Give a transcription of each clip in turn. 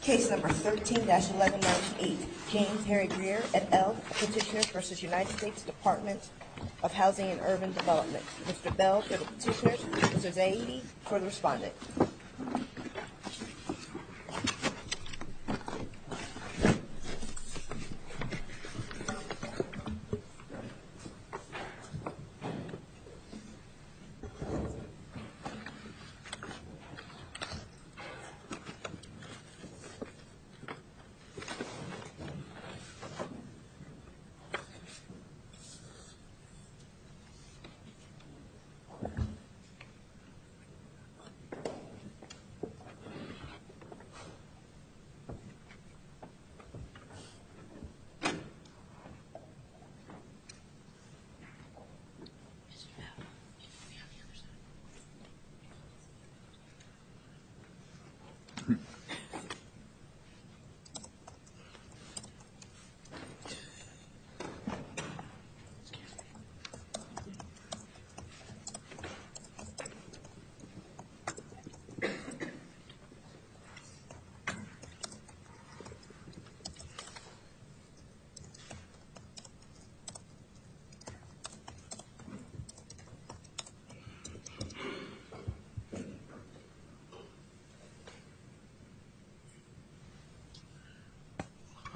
Case number 13-1198, James Harry Grier, et al., Petitioner v. United States Department of Housing and Urban Development. Mr. Bell, Petitioner v. AED, for the respondent.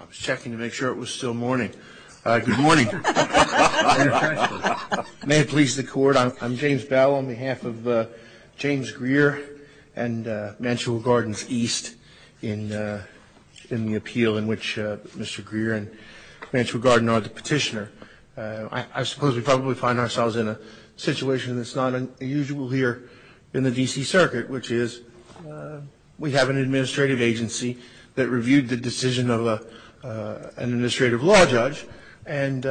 Mr. Bell, can you come to me on the other side? Mr. Grier, can you come to me on the other side? I was checking to make sure it was still morning. Good morning. May it please the Court. I'm James Bell on behalf of James Grier and Mansfield Gardens East in the appeal in which Mr. Grier and Mansfield Garden are the Petitioner. I suppose we probably find ourselves in a situation that's not unusual here in the D.C. Circuit, which is we have an administrative agency that reviewed the decision of an administrative law judge and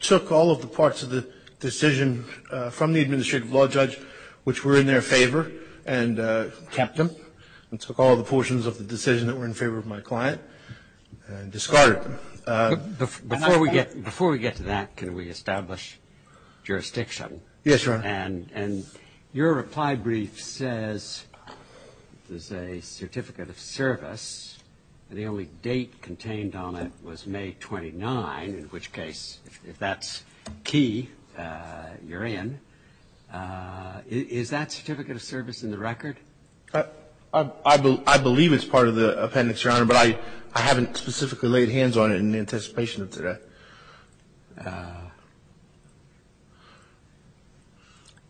took all of the parts of the decision from the administrative law judge which were in their favor and kept them and took all the portions of the decision that were in favor of my client and discarded them. Before we get to that, can we establish jurisdiction? Yes, Your Honor. And your reply brief says there's a certificate of service, and the only date contained on it was May 29, in which case, if that's key, you're in. Is that certificate of service in the record? I believe it's part of the appendix, Your Honor, but I haven't specifically laid hands on it in the anticipation of today.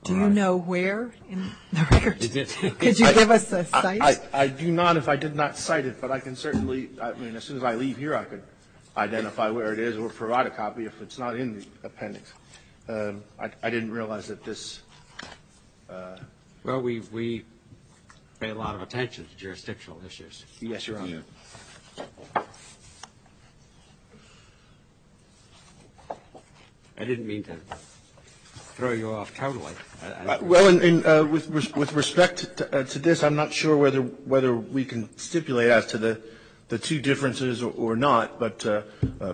Do you know where in the record? Could you give us a site? I do not if I did not cite it, but I can certainly, I mean, as soon as I leave here, I can identify where it is or provide a copy if it's not in the appendix. I didn't realize that this. Well, we pay a lot of attention to jurisdictional issues. Yes, Your Honor. I didn't mean to throw you off totally. Well, with respect to this, I'm not sure whether we can stipulate as to the two differences or not, but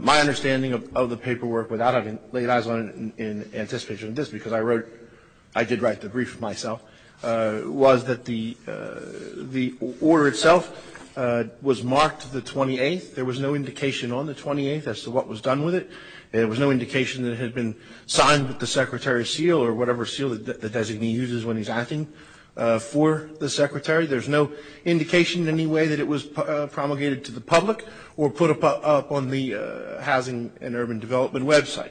my understanding of the paperwork without having laid eyes on it in anticipation of this, because I wrote, I did write the brief myself, was that the order itself was marked the 28th. There was no indication on the 28th as to what was done with it. There was no indication that it had been signed with the Secretary's seal or whatever seal the designee uses when he's acting for the Secretary. There's no indication in any way that it was promulgated to the public or put up on the Housing and Urban Development website.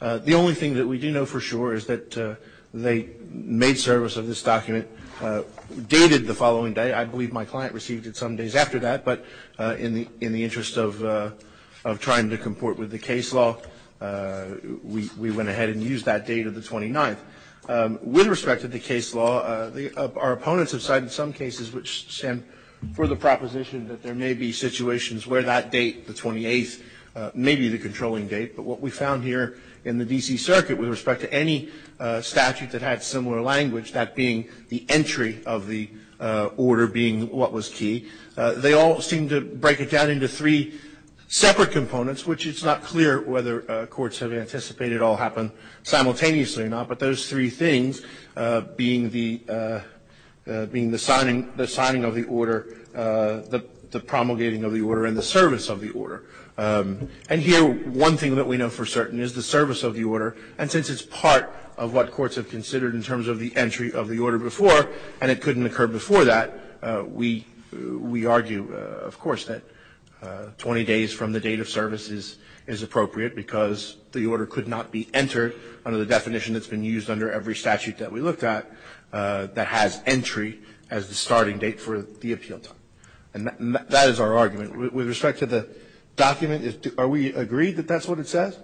The only thing that we do know for sure is that they made service of this document, dated the following day. I believe my client received it some days after that, but in the interest of trying to comport with the case law, we went ahead and used that date of the 29th. With respect to the case law, our opponents have cited some cases which, Sam, for the proposition that there may be situations where that date, the 28th, may be the controlling date, but what we found here in the D.C. Circuit with respect to any statute that had similar language, that being the entry of the order being what was key, they all seem to break it down into three separate components, which it's not clear whether courts have anticipated it all happened simultaneously or not, but those three things, being the signing of the order, the promulgating of the order, and the service of the order. And here, one thing that we know for certain is the service of the order, and since it's part of what courts have considered in terms of the entry of the order before and it couldn't occur before that, we argue, of course, that 20 days from the date of service is appropriate because the order could not be entered under the definition that's been used under every statute that we looked at that has entry as the starting point. With respect to the document, are we agreed that that's what it says?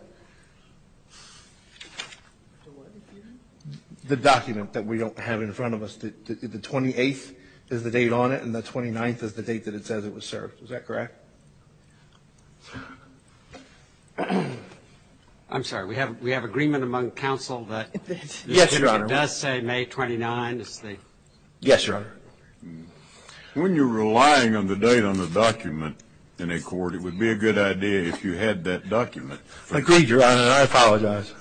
The document that we don't have in front of us. The 28th is the date on it, and the 29th is the date that it says it was served. Is that correct? I'm sorry. We have agreement among counsel that if it does say May 29th, it's the? Yes, Your Honor. When you're relying on the date on the document in a court, it would be a good idea if you had that document. Agreed, Your Honor. I apologize.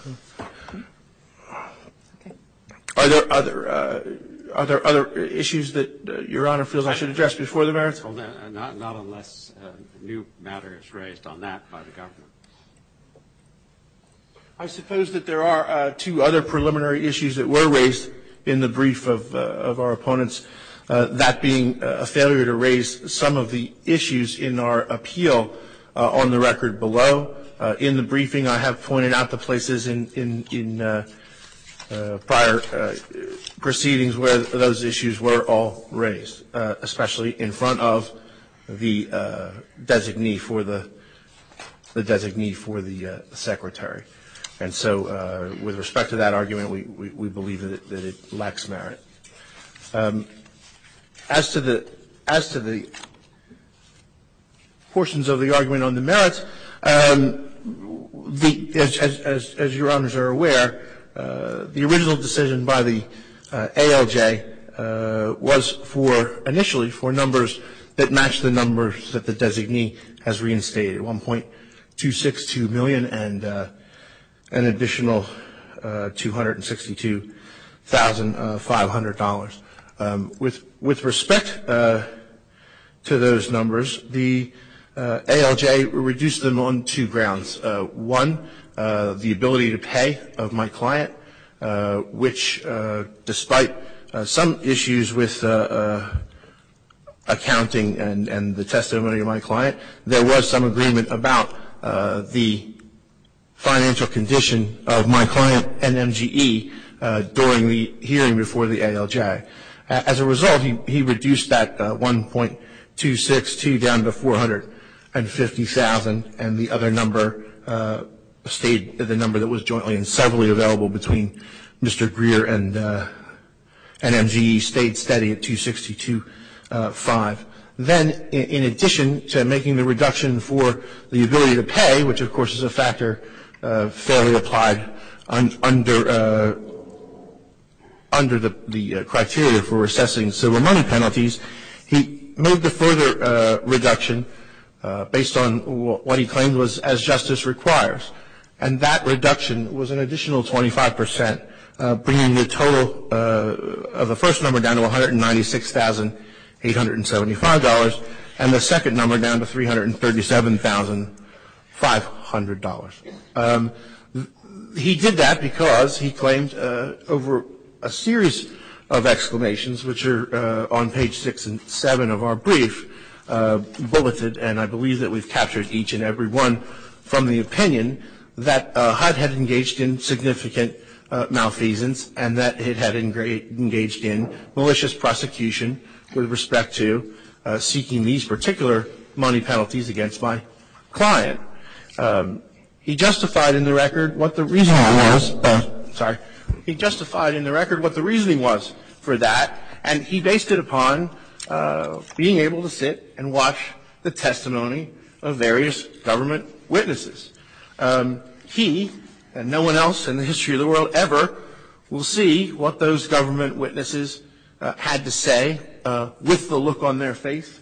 Are there other issues that Your Honor feels I should address before the merits? Not unless new matter is raised on that by the government. I suppose that there are two other preliminary issues that were raised in the brief of our opponents, that being a failure to raise some of the issues in our appeal on the record below. In the briefing, I have pointed out the places in prior proceedings where those issues were all raised, especially in front of the designee for the secretary. And so with respect to that argument, we believe that it lacks merit. As to the portions of the argument on the merits, as Your Honors are aware, the original decision by the ALJ was for initially for numbers that match the numbers that the ALJ proposed, an additional $262,500. With respect to those numbers, the ALJ reduced them on two grounds. One, the ability to pay of my client, which despite some issues with accounting and the testimony of my client, there was some agreement about the financial condition of my client, NMGE, during the hearing before the ALJ. As a result, he reduced that $1.262 down to $450,000. And the other number stayed the number that was jointly and severally available between Mr. Greer and NMGE stayed steady at $262,500. Then in addition to making the reduction for the ability to pay, which of course is a factor fairly applied under the criteria for assessing civil money penalties, he made the further reduction based on what he claimed was as justice requires. And that reduction was an additional 25 percent, bringing the total of the first number down to $196,875 and the second number down to $337,500. He did that because he claimed over a series of exclamations, which are on page 6 and 7 of our brief, bulleted, and I believe that we've captured each and every one from the opinion that HUD had engaged in significant malfeasance and that it had engaged in malicious prosecution with respect to seeking these particular money penalties against my client. He justified in the record what the reasoning was for that, and he based it upon being able to sit and watch the testimony of various government witnesses. He, and no one else in the history of the world ever, will see what those government witnesses had to say with the look on their face,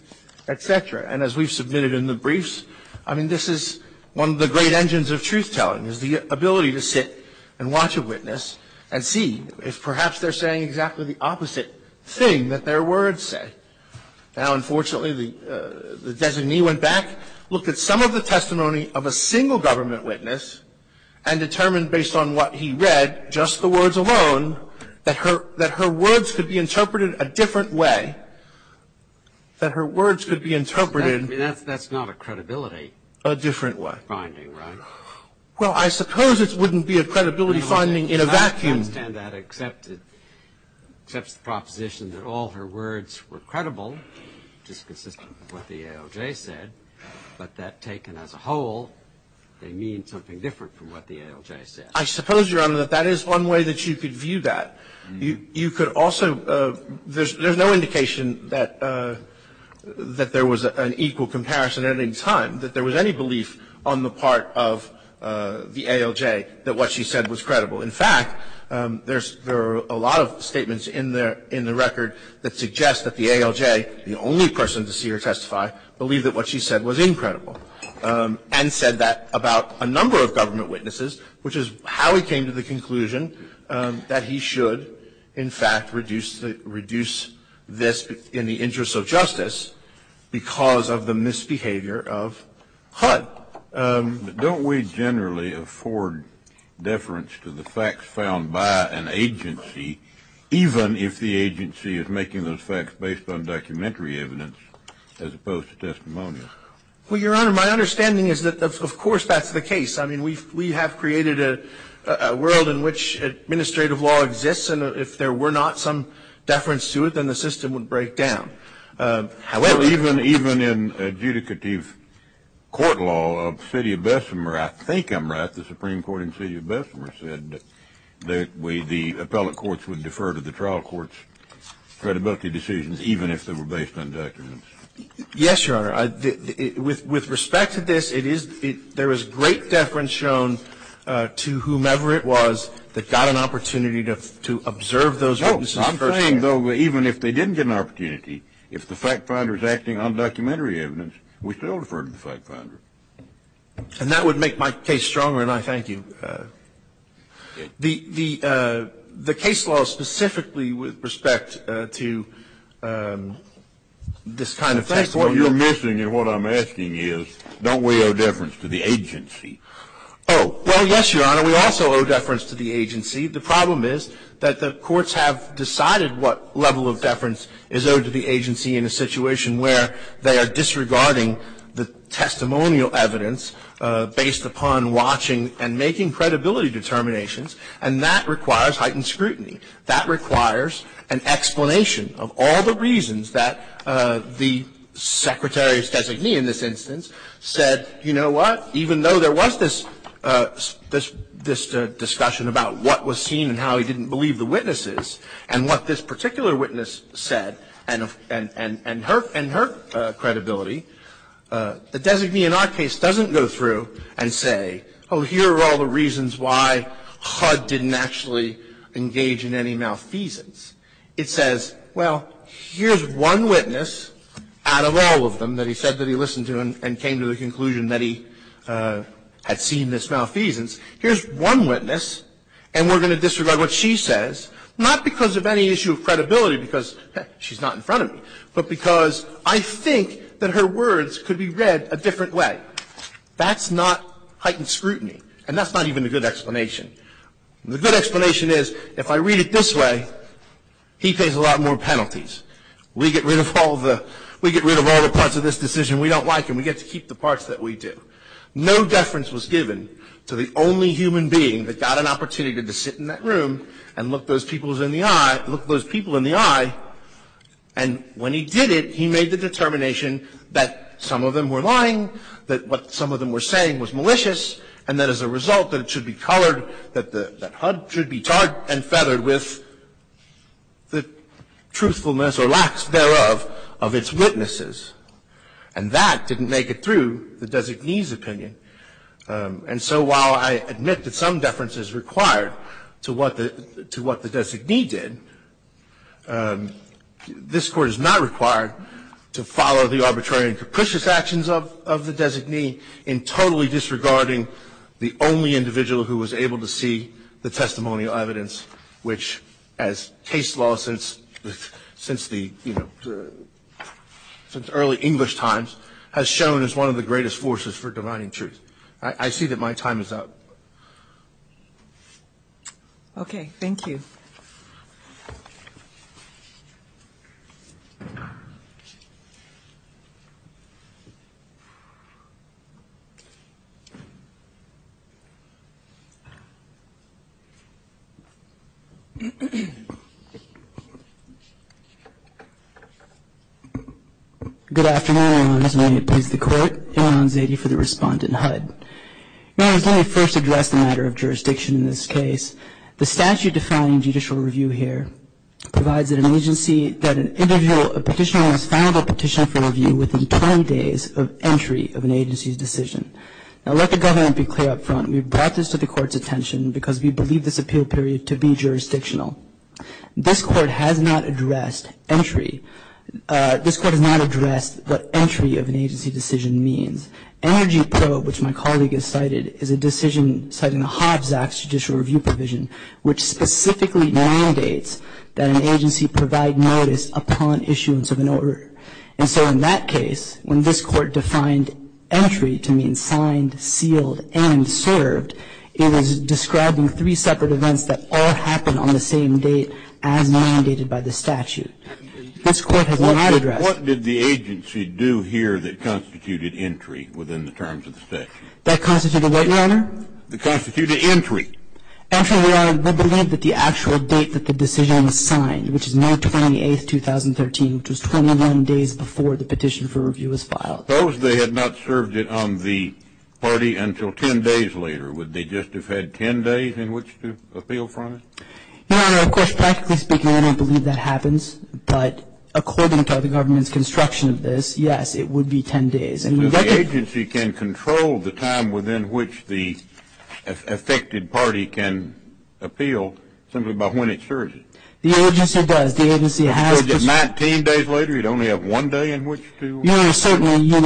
et cetera. And as we've submitted in the briefs, I mean, this is one of the great engines of truth-telling, is the ability to sit and watch a witness and see if perhaps they're saying exactly the opposite thing that their words say. Now, unfortunately, the designee went back, looked at some of the testimony of a single government witness, and determined, based on what he read, just the words alone, that her words could be interpreted a different way, that her words could be interpreted a different way. Well, I suppose it wouldn't be a credibility finding in a vacuum. I understand that, except it accepts the proposition that all her words were credible, which is consistent with what the ALJ said, but that taken as a whole, they mean something different from what the ALJ said. I suppose, Your Honor, that that is one way that you could view that. You could also – there's no indication that there was an equal comparison at any time, that there was any belief on the part of the ALJ that what she said was credible. In fact, there are a lot of statements in the record that suggest that the ALJ, the only person to see her testify, believed that what she said was incredible and said that about a number of government witnesses, which is how he came to the conclusion that he should, in fact, reduce this in the interest of justice because of the misbehavior of HUD. Don't we generally afford deference to the facts found by an agency even if the agency is making those facts based on documentary evidence as opposed to testimonial? Well, Your Honor, my understanding is that, of course, that's the case. I mean, we have created a world in which administrative law exists, and if there were not some deference to it, then the system would break down. Well, even in adjudicative court law of the city of Bessemer, I think I'm right. The Supreme Court in the city of Bessemer said that the appellate courts would defer to the trial courts' credibility decisions even if they were based on documentary evidence. Yes, Your Honor. With respect to this, there was great deference shown to whomever it was that got an opportunity to observe those witnesses firsthand. And though even if they didn't get an opportunity, if the fact finder is acting on documentary evidence, we still defer to the fact finder. And that would make my case stronger, and I thank you. The case law specifically with respect to this kind of testimony. In fact, what you're missing in what I'm asking is don't we owe deference to the agency? Oh, well, yes, Your Honor. We also owe deference to the agency. The problem is that the courts have decided what level of deference is owed to the agency in a situation where they are disregarding the testimonial evidence based upon watching and making credibility determinations. And that requires heightened scrutiny. That requires an explanation of all the reasons that the Secretary's designee in this instance said, you know what, even though there was this discussion about what was seen and how he didn't believe the witnesses and what this particular witness said and her credibility, the designee in our case doesn't go through and say, oh, here are all the reasons why HUD didn't actually engage in any malfeasance. It says, well, here's one witness out of all of them that he said that he listened to and came to the conclusion that he had seen this malfeasance. Here's one witness, and we're going to disregard what she says, not because of any issue of credibility, because, heck, she's not in front of me, but because I think that her words could be read a different way. That's not heightened scrutiny, and that's not even a good explanation. The good explanation is if I read it this way, he pays a lot more penalties. We get rid of all the – we get rid of all the parts of this decision. And we don't like them. We get to keep the parts that we do. No deference was given to the only human being that got an opportunity to sit in that room and look those people in the eye – look those people in the eye, and when he did it, he made the determination that some of them were lying, that what some of them were saying was malicious, and that as a result that it should be colored – that HUD should be tarred and feathered with the truthfulness or lax thereof of its witnesses. And that didn't make it through the designee's opinion. And so while I admit that some deference is required to what the – to what the designee did, this Court is not required to follow the arbitrary and capricious actions of the designee in totally disregarding the only individual who was able to see the testimonial evidence, which, as case law since – since the, you know, since early English times, has shown as one of the greatest forces for dividing truth. I see that my time is up. Okay. Thank you. Good afternoon, Your Honors. May it please the Court. Imran Zaidi for the Respondent, HUD. Your Honors, let me first address the matter of jurisdiction in this case. The statute defining judicial review here provides that an agency – that an individual – a petitioner must file a petition for review within 20 days of entry of an agency's decision. Now, let the government be clear up front. We brought this to the Court's attention because we believe this appeal period to be jurisdictional. This Court has not addressed entry – this Court has not addressed what entry of an agency decision means. Energy probe, which my colleague has cited, is a decision citing the Hobbs Act's judicial review provision, which specifically mandates that an agency provide notice upon issuance of an order. And so in that case, when this Court defined entry to mean signed, sealed, and mandated by the statute, this Court has not addressed – What did the agency do here that constituted entry within the terms of the statute? That constituted what, Your Honor? That constituted entry. Actually, Your Honor, we believe that the actual date that the decision was signed, which is May 28, 2013, which was 21 days before the petition for review was filed. Suppose they had not served it on the party until 10 days later. Would they just have had 10 days in which to appeal from it? Your Honor, of course, practically speaking, I don't believe that happens. But according to the government's construction of this, yes, it would be 10 days. And we've got to – But the agency can control the time within which the affected party can appeal simply by when it serves it. The agency does. The agency has – Because if 19 days later, you'd only have one day in which to – Your Honor, certainly, you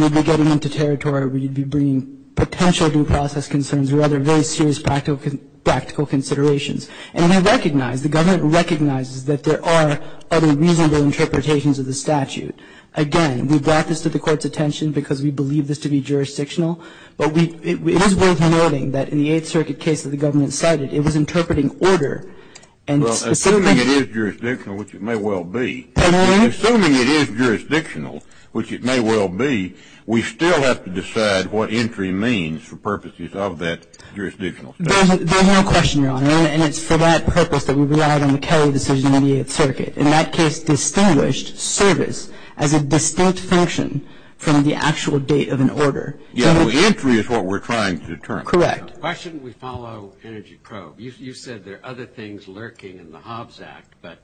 would be getting into territory where you'd be bringing potential due process concerns or other very serious practical considerations. And we recognize, the government recognizes that there are other reasonable interpretations of the statute. Again, we brought this to the Court's attention because we believe this to be jurisdictional. But we – it is worth noting that in the Eighth Circuit case that the government cited, it was interpreting order. And specifically – Well, assuming it is jurisdictional, which it may well be – Pardon me? Assuming it is jurisdictional, which it may well be, we still have to decide what entry means for purposes of that jurisdictional statute. There's no question, Your Honor. And it's for that purpose that we relied on the Kelly decision in the Eighth Circuit. In that case, distinguished service as a distinct function from the actual date of an order. Yeah, well, entry is what we're trying to determine. Correct. Why shouldn't we follow Energy Probe? You said there are other things lurking in the Hobbs Act. But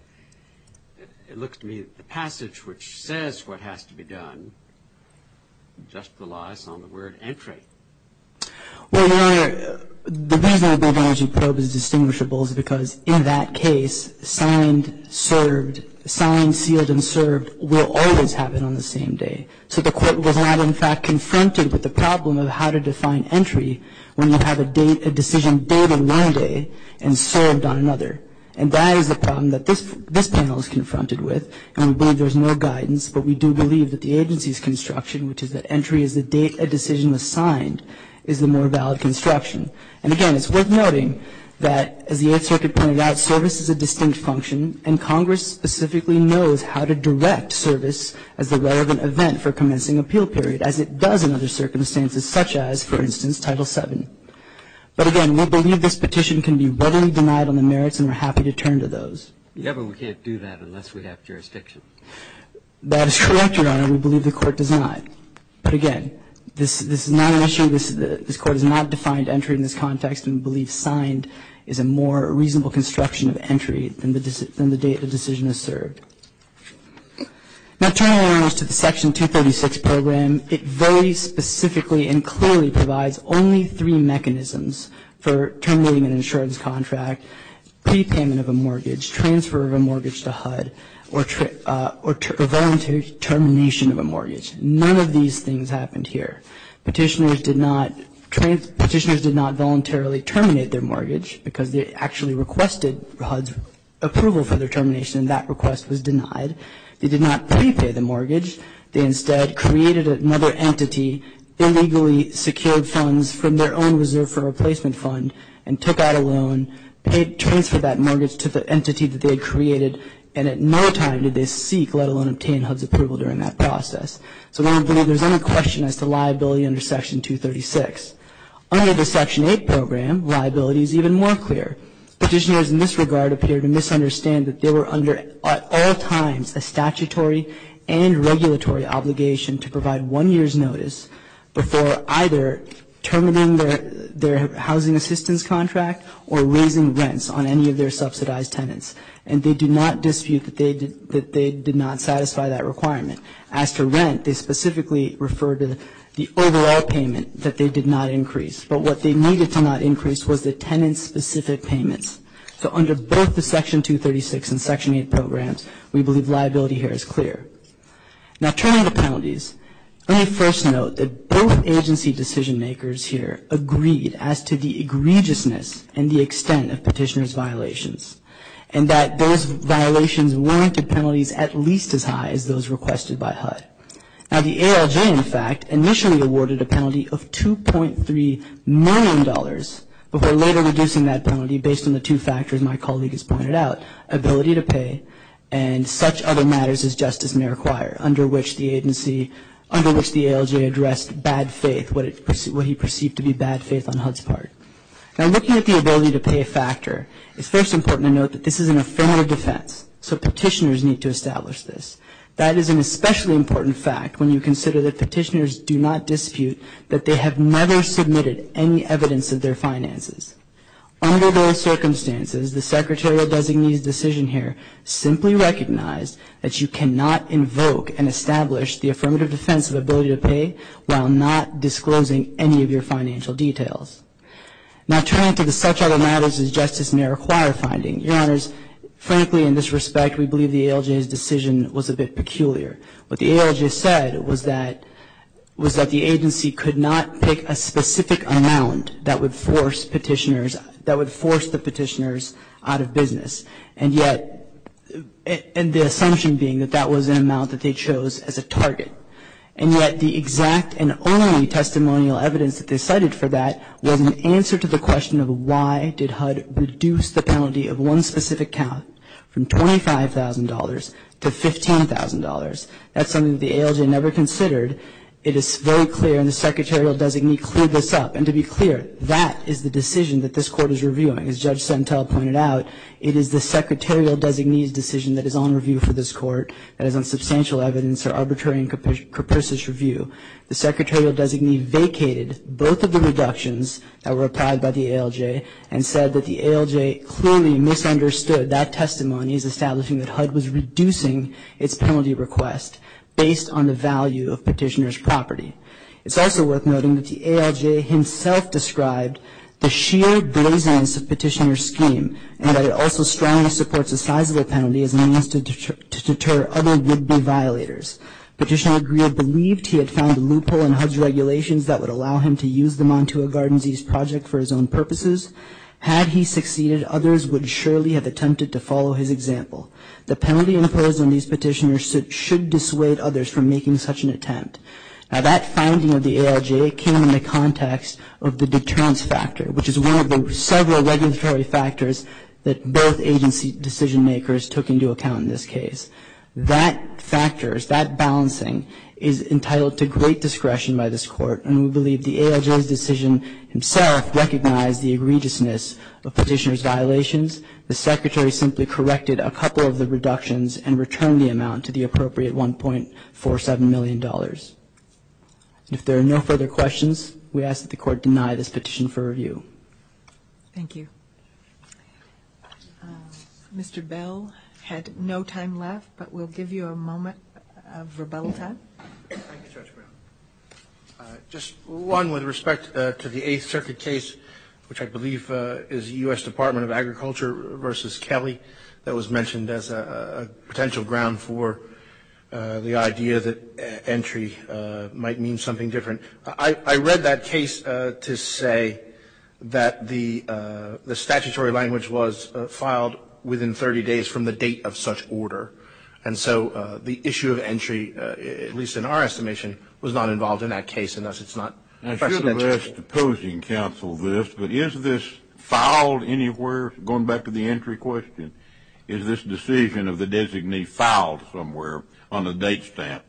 it looks to me that the passage which says what has to be done, just relies on the word entry. Well, Your Honor, the reason I believe Energy Probe is distinguishable is because in that case, signed, served – signed, sealed, and served will always happen on the same day. So the Court was not, in fact, confronted with the problem of how to define entry when you have a decision dated one day and served on another. And that is the problem that this panel is confronted with. And we believe there's no guidance. But we do believe that the agency's construction, which is that entry is the date a decision was signed, is the more valid construction. And again, it's worth noting that as the Eighth Circuit pointed out, service is a distinct function. And Congress specifically knows how to direct service as the relevant event for commencing appeal period, as it does in other circumstances, such as, for instance, Title VII. But again, we believe this petition can be readily denied on the merits, and we're happy to turn to those. Yeah, but we can't do that unless we have jurisdiction. That is correct, Your Honor. We believe the Court does not. But again, this is not an issue. This Court has not defined entry in this context, and we believe signed is a more reasonable construction of entry than the date a decision is served. Now, turning, of course, to the Section 236 program, it very specifically and clearly provides only three mechanisms for terminating an insurance contract – prepayment of a mortgage, transfer of a mortgage to HUD, or voluntary termination of a mortgage. None of these things happened here. Petitioners did not voluntarily terminate their mortgage, because they actually requested HUD's approval for their termination, and that request was denied. They did not prepay the mortgage. They instead created another entity, illegally secured funds from their own reserve for replacement fund, and took out a loan, transferred that mortgage to the entity that they had created, and at no time did they seek, let alone obtain, HUD's approval during that process. So we don't believe there's any question as to liability under Section 236. Under the Section 8 program, liability is even more clear. Petitioners in this regard appear to misunderstand that they were under, at all times, a statutory and regulatory obligation to provide one year's notice before either terminating their housing assistance contract or raising rents on any of their subsidized tenants. And they do not dispute that they did not satisfy that requirement. As to rent, they specifically refer to the overall payment that they did not increase. But what they needed to not increase was the tenant-specific payments. So under both the Section 236 and Section 8 programs, we believe liability here is clear. Now turning to penalties, let me first note that both agency decision-makers here agreed as to the egregiousness and the extent of petitioner's violations. And that those violations warranted penalties at least as high as those requested by HUD. Now the ALJ, in fact, initially awarded a penalty of $2.3 million before later reducing that penalty based on the two factors my colleague has pointed out, ability to pay and such other matters as justice may require, under which the agency, under which the ALJ addressed bad faith, what he perceived to be bad faith on HUD's part. Now looking at the ability to pay factor, it's first important to note that this is an affirmative defense. So petitioners need to establish this. That is an especially important fact when you consider that petitioners do not dispute that they have never submitted any evidence of their finances. Under those circumstances, the secretarial designee's decision here simply recognized that you cannot invoke and establish the affirmative defense of ability to pay while not disclosing any of your financial details. Now turning to the such other matters as justice may require finding, your honors, frankly in this respect we believe the ALJ's decision was a bit peculiar. What the ALJ said was that, was that the agency could not pick a specific amount that would force petitioners, that would force the petitioners out of business. And yet, and the assumption being that that was an amount that they chose as a target. And yet the exact and only testimonial evidence that they cited for that was an answer to the question of why did HUD reduce the penalty of one specific count from $25,000 to $15,000. That's something that the ALJ never considered. It is very clear and the secretarial designee cleared this up. And to be clear, that is the decision that this court is reviewing. As Judge Sentel pointed out, it is the secretarial designee's decision that is on review for this court. That is on substantial evidence or arbitrary and capricious review. The secretarial designee vacated both of the reductions that were applied by the ALJ and said that the ALJ clearly misunderstood that testimony as establishing that HUD was reducing its penalty request based on the value of petitioner's property. It's also worth noting that the ALJ himself described the sheer blazon of petitioner's scheme and that it also strongly supports a sizable penalty as a means to deter other would-be violators. Petitioner Greer believed he had found a loophole in HUD's regulations that would allow him to use the Montua Gardens East project for his own purposes. Had he succeeded, others would surely have attempted to follow his example. The penalty imposed on these petitioners should dissuade others from making such an attempt. Now that finding of the ALJ came in the context of the deterrence factor, which is one of the several regulatory factors that both agency decision-makers took into account in this case. That factors, that balancing is entitled to great discretion by this Court and we believe the ALJ's decision himself recognized the egregiousness of petitioner's violations. The Secretary simply corrected a couple of the reductions and returned the amount to the appropriate $1.47 million. If there are no further questions, we ask that the Court deny this petition for review. Thank you. Mr. Bell had no time left, but we'll give you a moment of rebellion. Thank you, Judge Brown. Just one with respect to the Eighth Circuit case, which I believe is U.S. Department of Agriculture versus Kelly that was mentioned as a potential ground for the idea that entry might mean something different. I read that case to say that the statutory language was filed within 30 days from the date of such order. And so the issue of entry, at least in our estimation, was not involved in that case. I should have asked the opposing counsel this, but is this filed anywhere? Going back to the entry question, is this decision of the designee filed somewhere on a date stamp?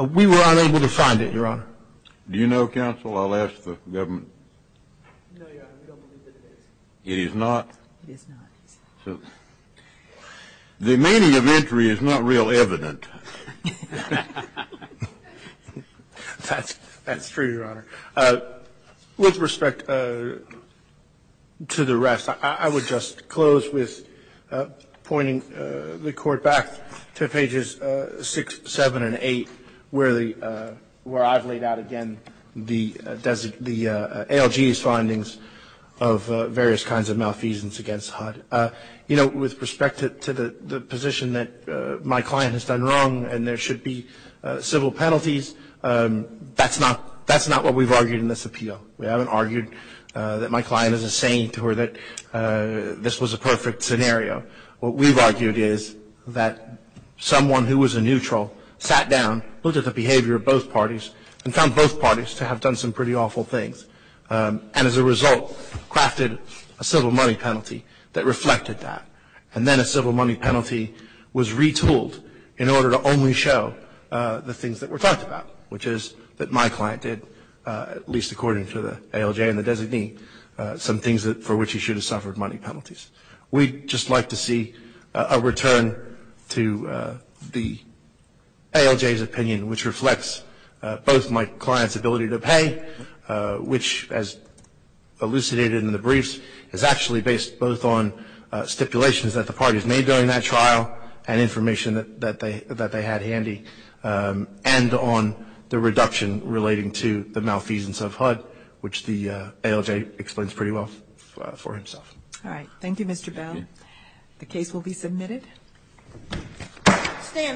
We were unable to find it, Your Honor. Do you know, counsel? I'll ask the government. No, Your Honor. We don't believe that it is. It is not? It is not. The meaning of entry is not real evident. That's true, Your Honor. With respect to the rest, I would just close with pointing the Court back to pages 6, 7, and 8, where I've laid out again the ALG's findings of various kinds of malfeasance against HUD. With respect to the position that my client has done wrong and there should be civil penalties, that's not what we've argued in this appeal. We haven't argued that my client is a saint or that this was a perfect scenario. What we've argued is that someone who was a neutral sat down, looked at the behavior of both parties, and found both parties to have done some pretty awful things and as a result crafted a civil money penalty that reflected that. And then a civil money penalty was retooled in order to only show the things that were talked about, which is that my client did, at least according to the ALJ and the designee, some things for which he should have suffered money penalties. We'd just like to see a return to the ALJ's opinion, which reflects both my client's ability to pay, which as elucidated in the briefs, is actually based both on stipulations that the parties made during that trial and information that they had handy, and on the reduction relating to the malfeasance of HUD, which the ALJ explains pretty well for himself. All right. Thank you, Mr. Bell. The case will be submitted.